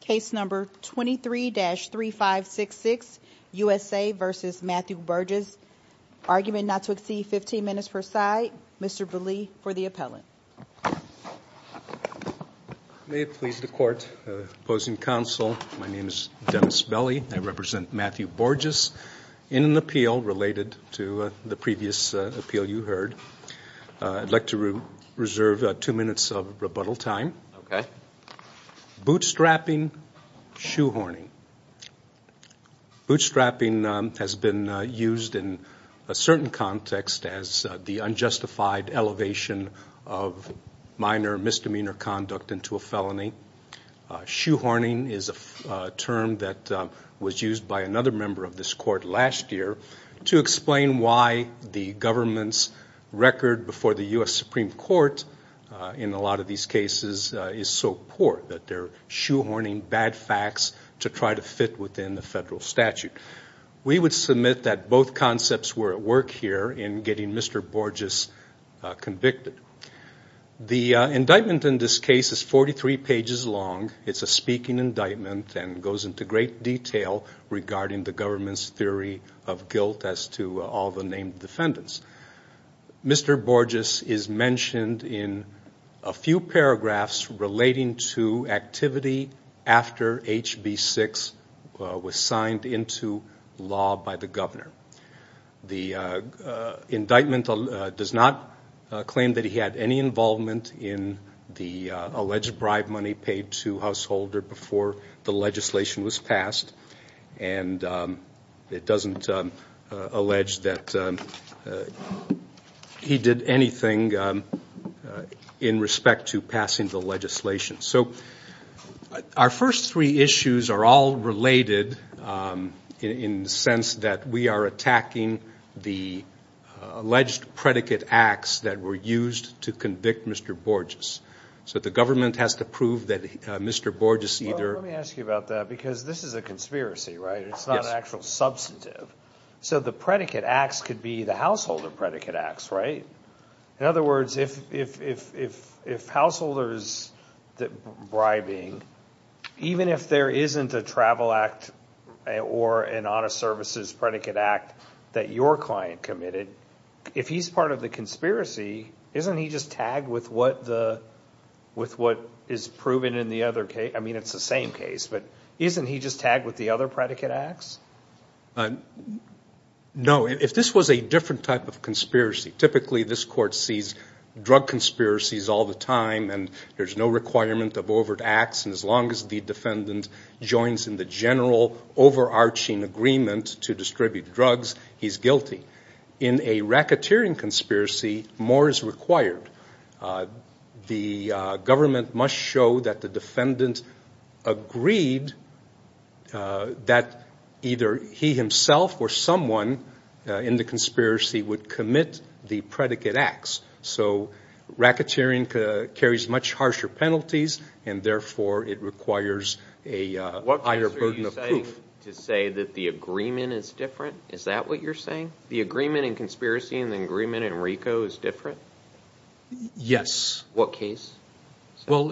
Case number 23-3566, USA v. Matthew Borges Argument not to exceed 15 minutes per side. Mr. Belli for the appellant. May it please the court, opposing counsel, my name is Dennis Belli. I represent Matthew Borges in an appeal related to the previous appeal you heard. I'd like to reserve two minutes of rebuttal time. Bootstrapping, shoehorning. Bootstrapping has been used in a certain context as the unjustified elevation of minor misdemeanor conduct into a felony. Shoehorning is a term that was used by another member of this court last year to explain why the government's record before the U.S. Supreme Court in a lot of these cases is so poor that they're shoehorning bad facts to try to fit within the federal statute. We would submit that both concepts were at work here in getting Mr. Borges convicted. The indictment in this case is 43 pages long. It's a speaking indictment and goes into great detail regarding the government's theory of guilt as to all the named defendants. Mr. Borges is mentioned in a few paragraphs relating to activity after HB 6 was signed into law by the governor. The indictment does not claim that he had any involvement in the alleged bribe money paid to He did anything in respect to passing the legislation. So our first three issues are all related in the sense that we are attacking the alleged predicate acts that were used to convict Mr. Borges. So the government has to prove that Mr. Borges either... Well, let me ask you about that because this is a conspiracy, right? It's not an actual substantive. So the predicate acts could be the householder predicate acts, right? In other words, if householder is bribing, even if there isn't a travel act or an honest services predicate act that your client committed, if he's part of the conspiracy, isn't he just tagged with what is proven in the other case? I mean, it's the same case, but isn't he just tagged with the other predicate acts? No. If this was a different type of conspiracy, typically this court sees drug conspiracies all the time and there's no requirement of overt acts and as long as the defendant joins in the general overarching agreement to distribute drugs, he's guilty. In a racketeering conspiracy, more is required. The government must show that the defendant agreed that either he himself or someone in the conspiracy would commit the predicate acts. So racketeering carries much harsher penalties and therefore it requires a higher burden of proof. What case are you saying to say that the agreement is different? Is that what you're saying? The agreement in conspiracy and the agreement in RICO is different? Yes. What case? Well,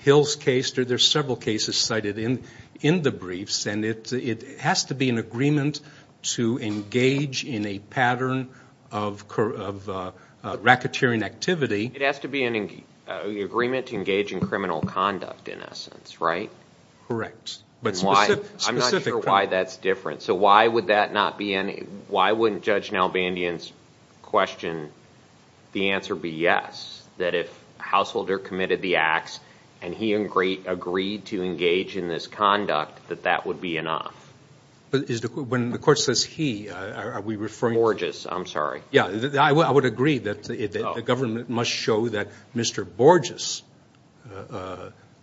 Hill's case, there's several cases cited in the briefs and it has to be an agreement to engage in a pattern of racketeering activity. It has to be an agreement to engage in criminal conduct in essence, right? Correct. I'm not sure why that's different. So why wouldn't Judge Nalbandian's question, the answer be yes? That if a householder committed the acts and he agreed to engage in this conduct, that that would be enough? When the court says he, are we referring to? Borges, I'm sorry. Yeah, I would agree that the government must show that Mr. Borges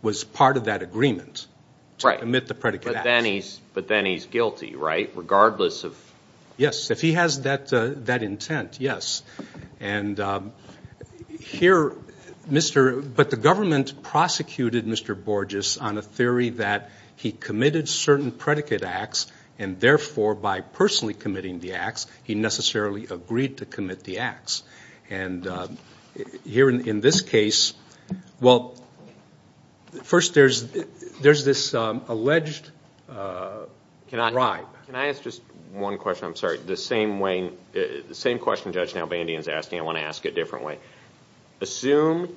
was part of that agreement to omit the predicate. But then he's guilty, right? Regardless of. Yes, if he has that intent, yes. But the government prosecuted Mr. Borges on a theory that he committed certain predicate acts and therefore by personally committing the acts, he necessarily agreed to commit the acts. And here in this case, well, first there's this alleged bribe. Can I ask just one question? I'm sorry. The same way, the same question Judge Nalbandian is asking, I want to ask it differently. Assume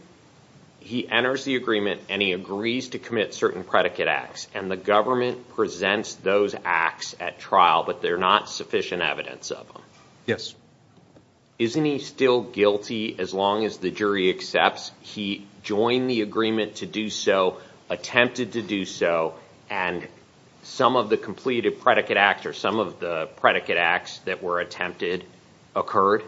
he enters the agreement and he agrees to commit certain predicate acts and the government presents those acts at trial, but they're not sufficient evidence of them. Yes. Isn't he still guilty as long as the jury accepts he joined the agreement to do so, attempted to do so, and some of the completed predicate acts or some of the predicate acts that were attempted occurred?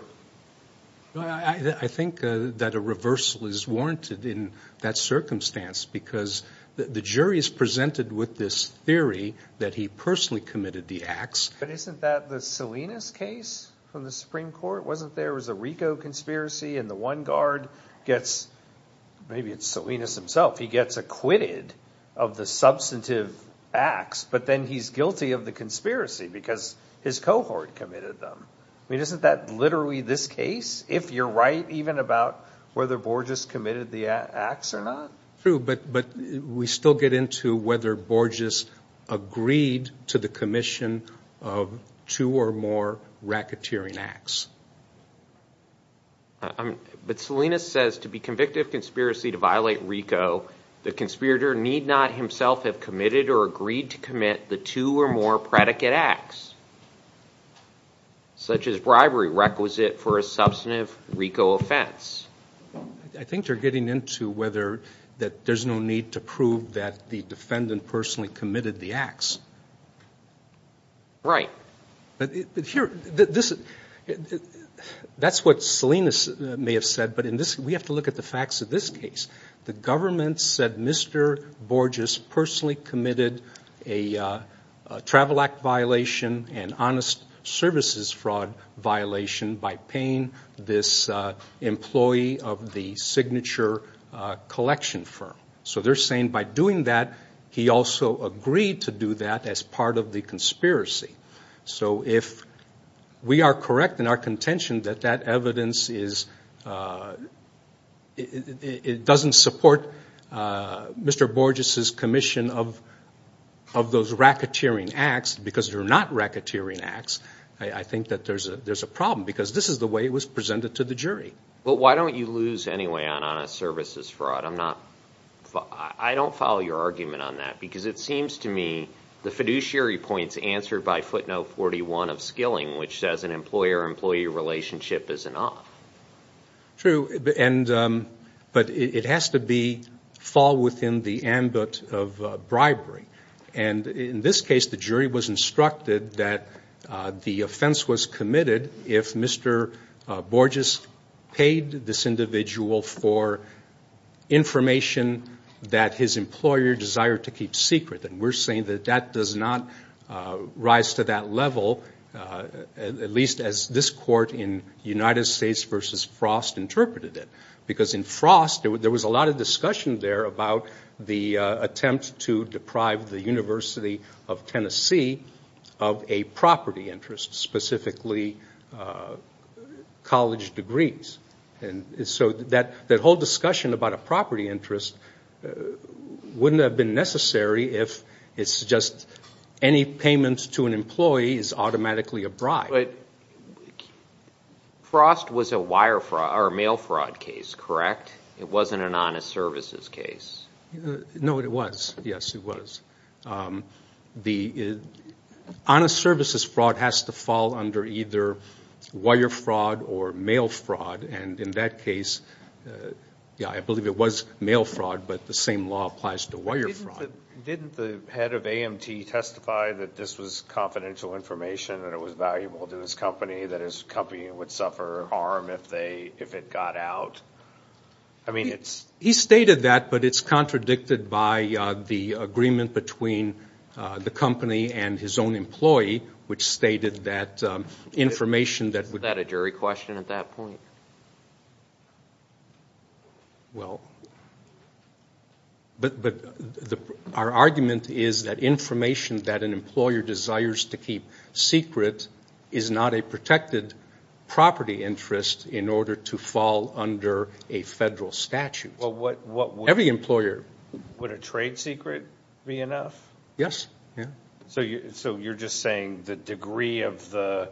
I think that a reversal is warranted in that circumstance because the jury is presented with this theory that he personally committed the acts. But isn't that the Salinas case from the Supreme Court? Wasn't there was a RICO conspiracy and the one guard gets, maybe it's Salinas himself, he gets acquitted of the substantive acts, but then he's guilty of the conspiracy because his cohort committed them. I mean, isn't that literally this case, if you're right even about whether Borges committed the acts or not? True, but we still get into whether Borges agreed to the commission of two or more racketeering acts. But Salinas says to be convicted of conspiracy to violate RICO, the conspirator need not himself have committed or agreed to commit the two or more predicate acts, such as bribery requisite for a substantive RICO offense. I think you're getting into whether that there's no need to prove that the defendant personally committed the acts. Right. That's what Salinas may have said, but we have to look at the facts of this case. The government said Mr. Borges personally committed a travel act violation and honest services fraud violation by paying this employee of the signature collection firm. So they're saying by doing that, he also agreed to do that as part of the conspiracy. So if we are correct in our contention that that evidence doesn't support Mr. Borges' commission of those racketeering acts because they're not racketeering acts, I think that there's a problem because this is the way it was presented to the jury. But why don't you lose anyway on honest services fraud? I don't follow your argument on that because it seems to me the fiduciary points answered by footnote 41 of Skilling, which says an employer-employee relationship is an off. True, but it has to fall within the ambit of bribery. And in this case, the jury was instructed that the offense was committed if Mr. Borges paid this individual for information that his employer desired to keep secret. And we're saying that that does not rise to that level, at least as this court in United States v. Frost interpreted it. Because in Frost, there was a lot of discussion there about the attempt to deprive the University of Tennessee of a property interest, specifically college degrees. And so that whole discussion about a property interest wouldn't have been necessary if it's just any payment to an employee is automatically a bribe. But Frost was a wire fraud or mail fraud case, correct? It wasn't an honest services case. No, it was. Yes, it was. The honest services fraud has to fall under either wire fraud or mail fraud. And in that case, yeah, I believe it was mail fraud, but the same law applies to wire fraud. Didn't the head of AMT testify that this was confidential information and it was valuable to his company, that his company would suffer harm if it got out? He stated that, but it's contradicted by the agreement between the company and his own employee, which stated that information that would... Well, but our argument is that information that an employer desires to keep secret is not a protected property interest in order to fall under a federal statute. Every employer... Would a trade secret be enough? Yes. So you're just saying the degree of the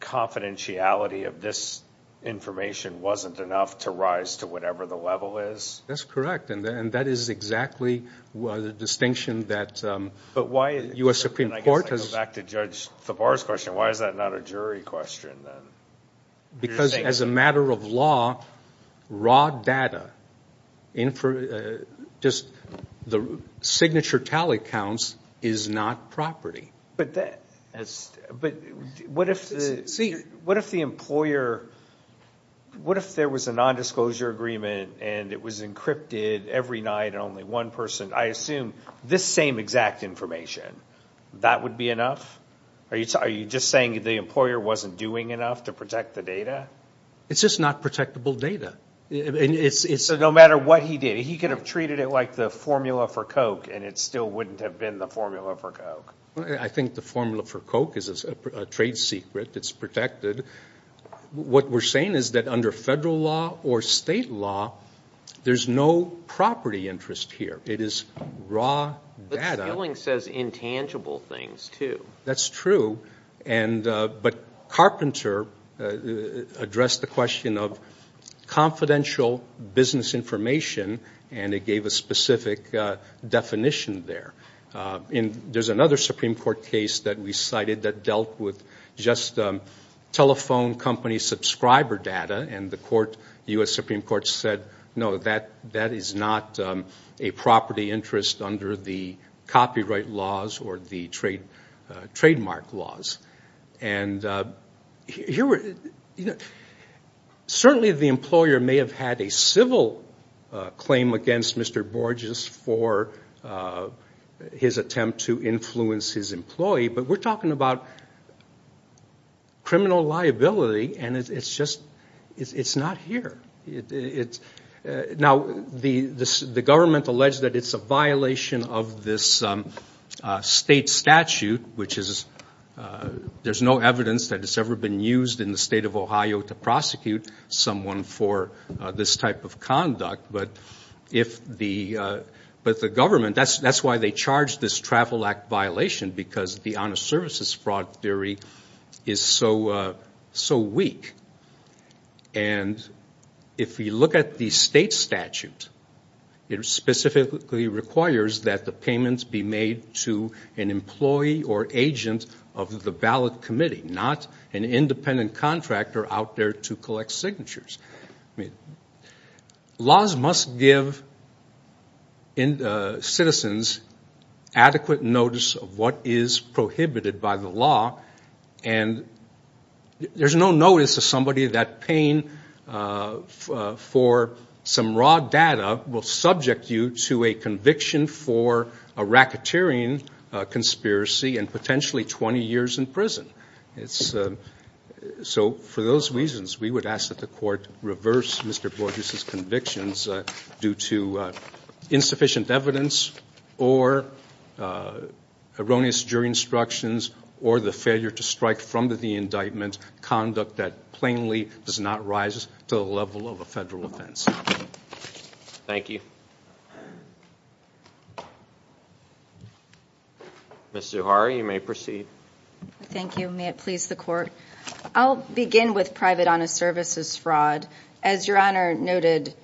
confidentiality of this information wasn't enough to rise to whatever the level is? That's correct, and that is exactly the distinction that U.S. Supreme Court has... But why, and I guess I go back to Judge Thavar's question, why is that not a jury question then? Because as a matter of law, raw data, just the signature tally counts is not property. But what if the employer... What if there was a nondisclosure agreement and it was encrypted every night and only one person... I assume this same exact information, that would be enough? Are you just saying the employer wasn't doing enough to protect the data? It's just not protectable data. So no matter what he did, he could have treated it like the formula for Coke and it still wouldn't have been the formula for Coke. I think the formula for Coke is a trade secret, it's protected. What we're saying is that under federal law or state law, there's no property interest here. It is raw data. But spilling says intangible things, too. That's true, but Carpenter addressed the question of confidential business information, and it gave a specific definition there. There's another Supreme Court case that we cited that dealt with just telephone company subscriber data, and the U.S. Supreme Court said, no, that is not a property interest under the copyright laws or the trademark laws. Certainly the employer may have had a civil claim against Mr. Borges for his attempt to influence his employee, but we're talking about criminal liability, and it's just not here. Now, the government alleged that it's a violation of this state statute, which is there's no evidence that it's ever been used in the state of Ohio to prosecute someone for this type of conduct. But the government, that's why they charged this Travel Act violation, because the honest services fraud theory is so weak. And if you look at the state statute, it specifically requires that the payments be made to an employee or agent of the ballot committee, not an independent contractor out there to collect signatures. I mean, laws must give citizens adequate notice of what is prohibited by the law, and there's no notice of somebody that paying for some raw data will subject you to a conviction for a racketeering conspiracy and potentially 20 years in prison. So for those reasons, we would ask that the court reverse Mr. Borges' convictions due to insufficient evidence or erroneous jury instructions or the failure to strike from the indictment conduct that plainly does not rise to the level of a federal offense. Thank you. Ms. Zuhar, you may proceed. Thank you. May it please the court. I'll begin with private honest services fraud. As Your Honor noted,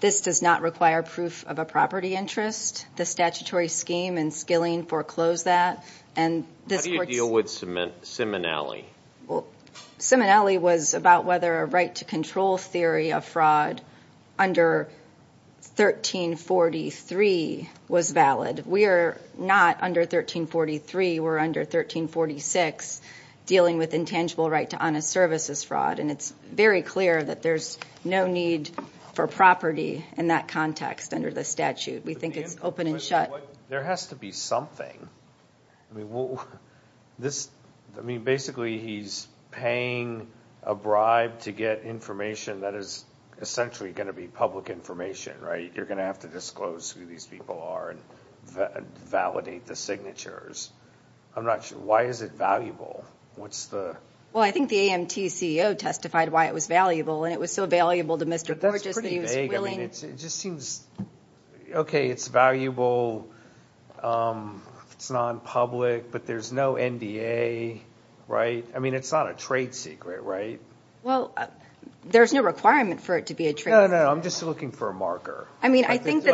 this does not require proof of a property interest. The statutory scheme and skilling foreclose that. How do you deal with Simonelli? Well, Simonelli was about whether a right to control theory of fraud under 1343 was valid. We are not under 1343. We're under 1346, dealing with intangible right to honest services fraud, and it's very clear that there's no need for property in that context under the statute. We think it's open and shut. There has to be something. I mean, basically he's paying a bribe to get information that is essentially going to be public information, right? You're going to have to disclose who these people are and validate the signatures. I'm not sure. Why is it valuable? Well, I think the AMT CEO testified why it was valuable, and it was so valuable to Mr. Gorgeous that he was willing. It just seems, okay, it's valuable. It's nonpublic, but there's no NDA, right? I mean, it's not a trade secret, right? Well, there's no requirement for it to be a trade secret. No, no, no, I'm just looking for a marker. I think the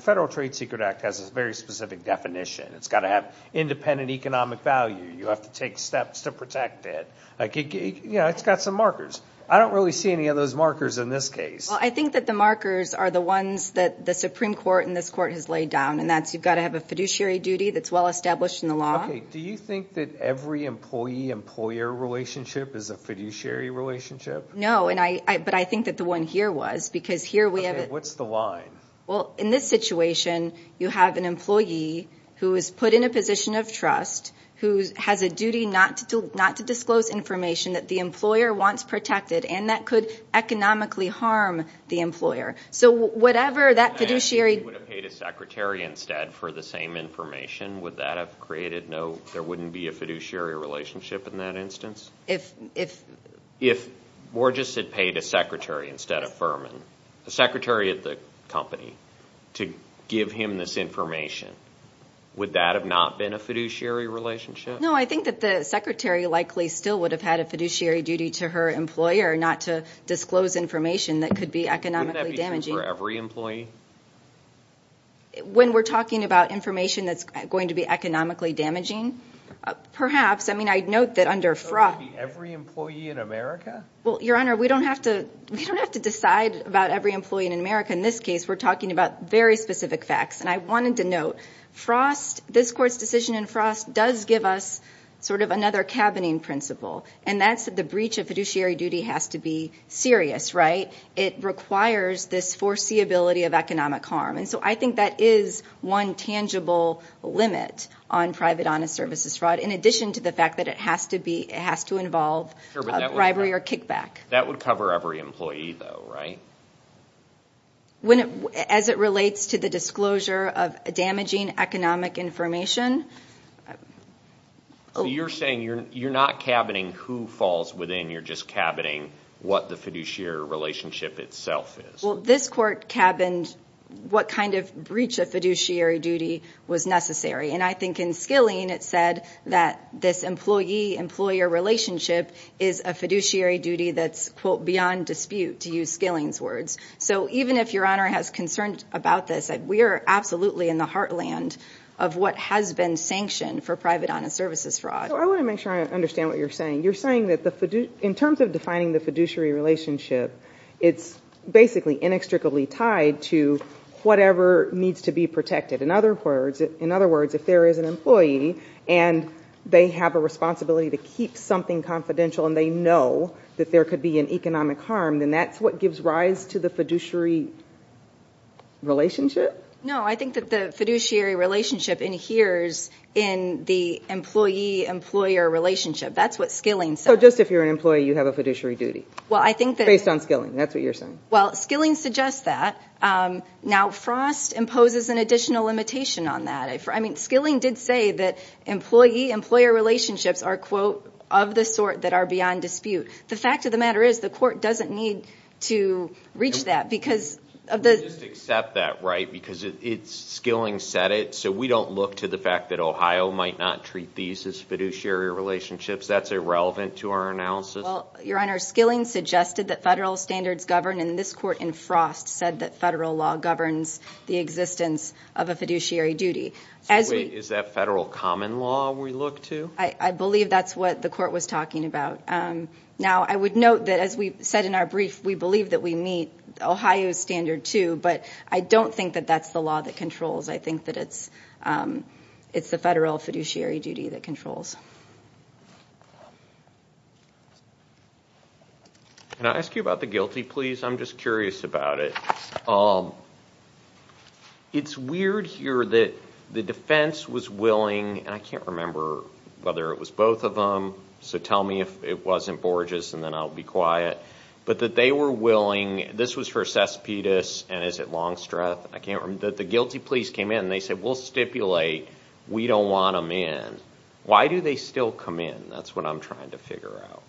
Federal Trade Secret Act has a very specific definition. It's got to have independent economic value. You have to take steps to protect it. It's got some markers. I don't really see any of those markers in this case. Well, I think that the markers are the ones that the Supreme Court and this court has laid down, and that's you've got to have a fiduciary duty that's well established in the law. Okay, do you think that every employee-employer relationship is a fiduciary relationship? No, but I think that the one here was, because here we have it. Okay, what's the line? Well, in this situation, you have an employee who is put in a position of trust, who has a duty not to disclose information that the employer wants protected, and that could economically harm the employer. So whatever that fiduciary – And he would have paid his secretary instead for the same information. Would that have created no – there wouldn't be a fiduciary relationship in that instance? If Borges had paid a secretary instead of Fuhrman, a secretary of the company, to give him this information, would that have not been a fiduciary relationship? No, I think that the secretary likely still would have had a fiduciary duty to her employer not to disclose information that could be economically damaging. Wouldn't that be true for every employee? When we're talking about information that's going to be economically damaging, perhaps. I mean, I'd note that under – So it would be every employee in America? Well, Your Honor, we don't have to decide about every employee in America. In this case, we're talking about very specific facts. And I wanted to note, this Court's decision in Frost does give us sort of another cabining principle, and that's that the breach of fiduciary duty has to be serious, right? It requires this foreseeability of economic harm. And so I think that is one tangible limit on private honest services fraud, in addition to the fact that it has to involve bribery or kickback. That would cover every employee, though, right? As it relates to the disclosure of damaging economic information. So you're saying you're not cabining who falls within, you're just cabining what the fiduciary relationship itself is. Well, this Court cabined what kind of breach of fiduciary duty was necessary. And I think in Skilling, it said that this employee-employer relationship is a fiduciary duty that's, quote, beyond dispute, to use Skilling's words. So even if Your Honor has concerns about this, we are absolutely in the heartland of what has been sanctioned for private honest services fraud. So I want to make sure I understand what you're saying. You're saying that in terms of defining the fiduciary relationship, it's basically inextricably tied to whatever needs to be protected. In other words, if there is an employee and they have a responsibility to keep something confidential and they know that there could be an economic harm, then that's what gives rise to the fiduciary relationship? No, I think that the fiduciary relationship adheres in the employee-employer relationship. That's what Skilling says. So just if you're an employee, you have a fiduciary duty, based on Skilling. That's what you're saying. Well, Skilling suggests that. Now, Frost imposes an additional limitation on that. I mean, Skilling did say that employee-employer relationships are, quote, of the sort that are beyond dispute. The fact of the matter is the court doesn't need to reach that because of the... Just accept that, right, because Skilling said it. So we don't look to the fact that Ohio might not treat these as fiduciary relationships. That's irrelevant to our analysis. Well, Your Honor, Skilling suggested that federal standards govern, and this court in Frost said that federal law governs the existence of a fiduciary duty. So, wait, is that federal common law we look to? I believe that's what the court was talking about. Now, I would note that, as we said in our brief, we believe that we meet Ohio's standard too, but I don't think that that's the law that controls. I think that it's the federal fiduciary duty that controls. Thanks. Can I ask you about the guilty pleas? I'm just curious about it. It's weird here that the defense was willing, and I can't remember whether it was both of them, so tell me if it wasn't Borges, and then I'll be quiet, but that they were willing. This was for Cespedes, and is it Longstreth? I can't remember. The guilty pleas came in, and they said we'll stipulate. We don't want them in. Why do they still come in? That's what I'm trying to figure out.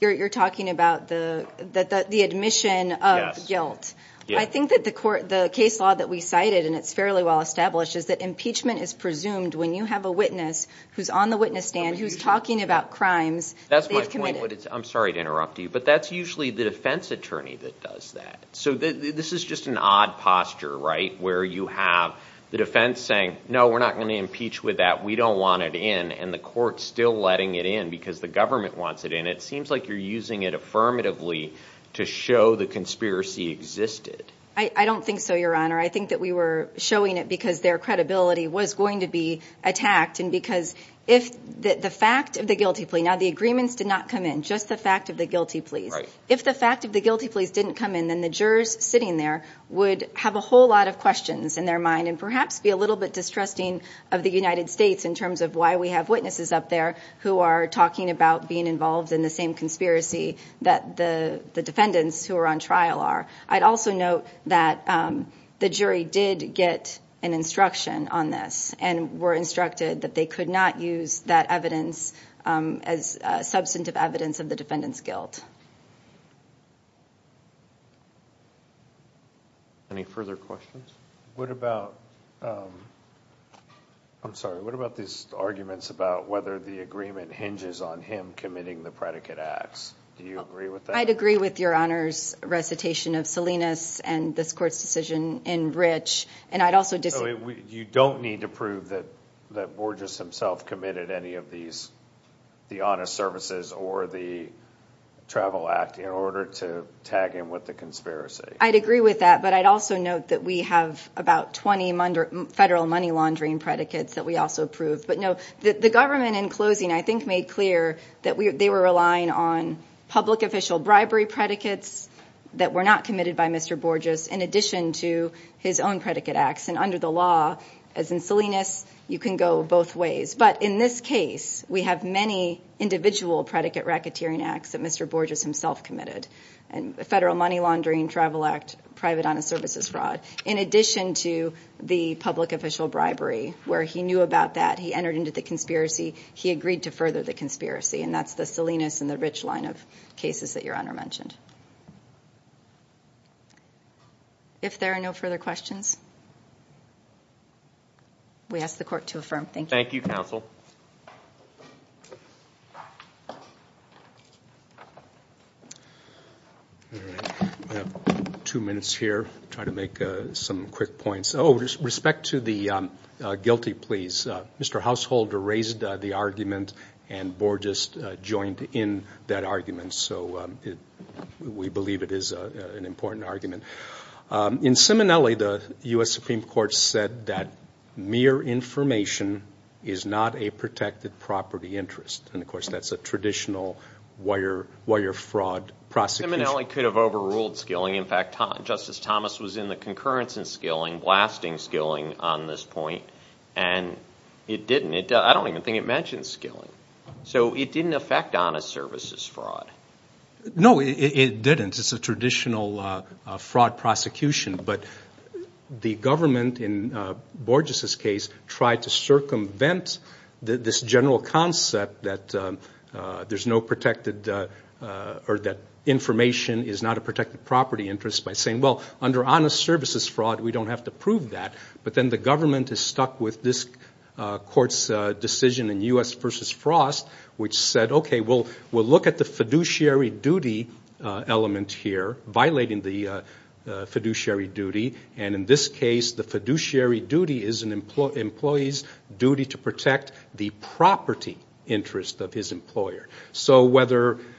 You're talking about the admission of guilt. I think that the case law that we cited, and it's fairly well established, is that impeachment is presumed when you have a witness who's on the witness stand who's talking about crimes that they've committed. I'm sorry to interrupt you, but that's usually the defense attorney that does that. So this is just an odd posture, right, where you have the defense saying, no, we're not going to impeach with that, we don't want it in, and the court's still letting it in because the government wants it in. It seems like you're using it affirmatively to show the conspiracy existed. I don't think so, Your Honor. I think that we were showing it because their credibility was going to be attacked and because if the fact of the guilty plea, now the agreements did not come in, just the fact of the guilty pleas. If the fact of the guilty pleas didn't come in, then the jurors sitting there would have a whole lot of questions in their mind and perhaps be a little bit distrusting of the United States in terms of why we have witnesses up there who are talking about being involved in the same conspiracy that the defendants who are on trial are. I'd also note that the jury did get an instruction on this and were instructed that they could not use that evidence as substantive evidence of the defendant's guilt. Any further questions? What about these arguments about whether the agreement hinges on him committing the predicate acts? Do you agree with that? I'd agree with Your Honor's recitation of Salinas and this court's decision in Rich. You don't need to prove that Borges himself committed any of these, the honest services or the travel act, in order to tag him with the conspiracy. I'd agree with that, but I'd also note that we have about 20 federal money laundering predicates that we also approved. But no, the government in closing I think made clear that they were relying on public official bribery predicates that were not committed by Mr. Borges in addition to his own predicate acts. And under the law, as in Salinas, you can go both ways. But in this case, we have many individual predicate racketeering acts that Mr. Borges himself committed, federal money laundering, travel act, private honest services fraud. In addition to the public official bribery, where he knew about that, he entered into the conspiracy, he agreed to further the conspiracy, and that's the Salinas and the Rich line of cases that Your Honor mentioned. If there are no further questions, we ask the court to affirm. Thank you. Thank you, counsel. I have two minutes here. I'll try to make some quick points. Oh, respect to the guilty, please. Mr. Householder raised the argument, and Borges joined in that argument. So we believe it is an important argument. In Simonelli, the U.S. Supreme Court said that mere information is not a protected property interest. And, of course, that's a traditional wire fraud prosecution. Simonelli could have overruled skilling. In fact, Justice Thomas was in the concurrence in skilling, blasting skilling on this point, and it didn't. I don't even think it mentioned skilling. So it didn't affect honest services fraud. No, it didn't. It's a traditional fraud prosecution. But the government in Borges' case tried to circumvent this general concept that information is not a protected property interest by saying, well, under honest services fraud, we don't have to prove that. But then the government is stuck with this court's decision in U.S. which said, okay, we'll look at the fiduciary duty element here, violating the fiduciary duty. And in this case, the fiduciary duty is an employee's duty to protect the property interest of his employer. So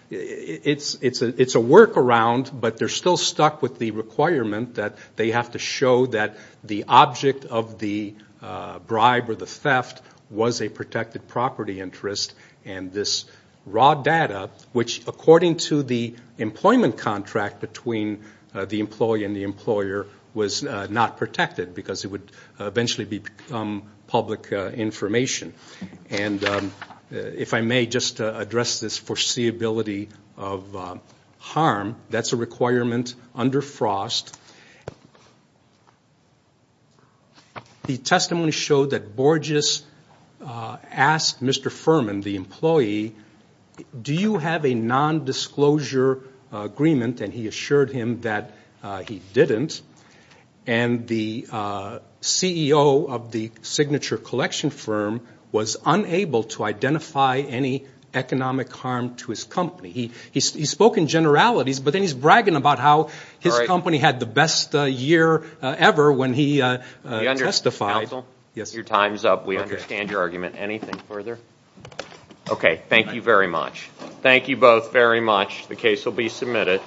it's a workaround, but they're still stuck with the requirement that they have to show that the object of the bribe or the theft was a protected property interest and this raw data, which according to the employment contract between the employee and the employer was not protected because it would eventually become public information. And if I may just address this foreseeability of harm, that's a requirement under Frost. The testimony showed that Borges asked Mr. Furman, the employee, do you have a nondisclosure agreement? And he assured him that he didn't. And the CEO of the signature collection firm was unable to identify any economic harm to his company. He spoke in generalities, but then he's bragging about how his company had the best year ever when he testified. Counsel, your time's up. We understand your argument. Anything further? Okay, thank you very much. Thank you both very much. The case will be submitted.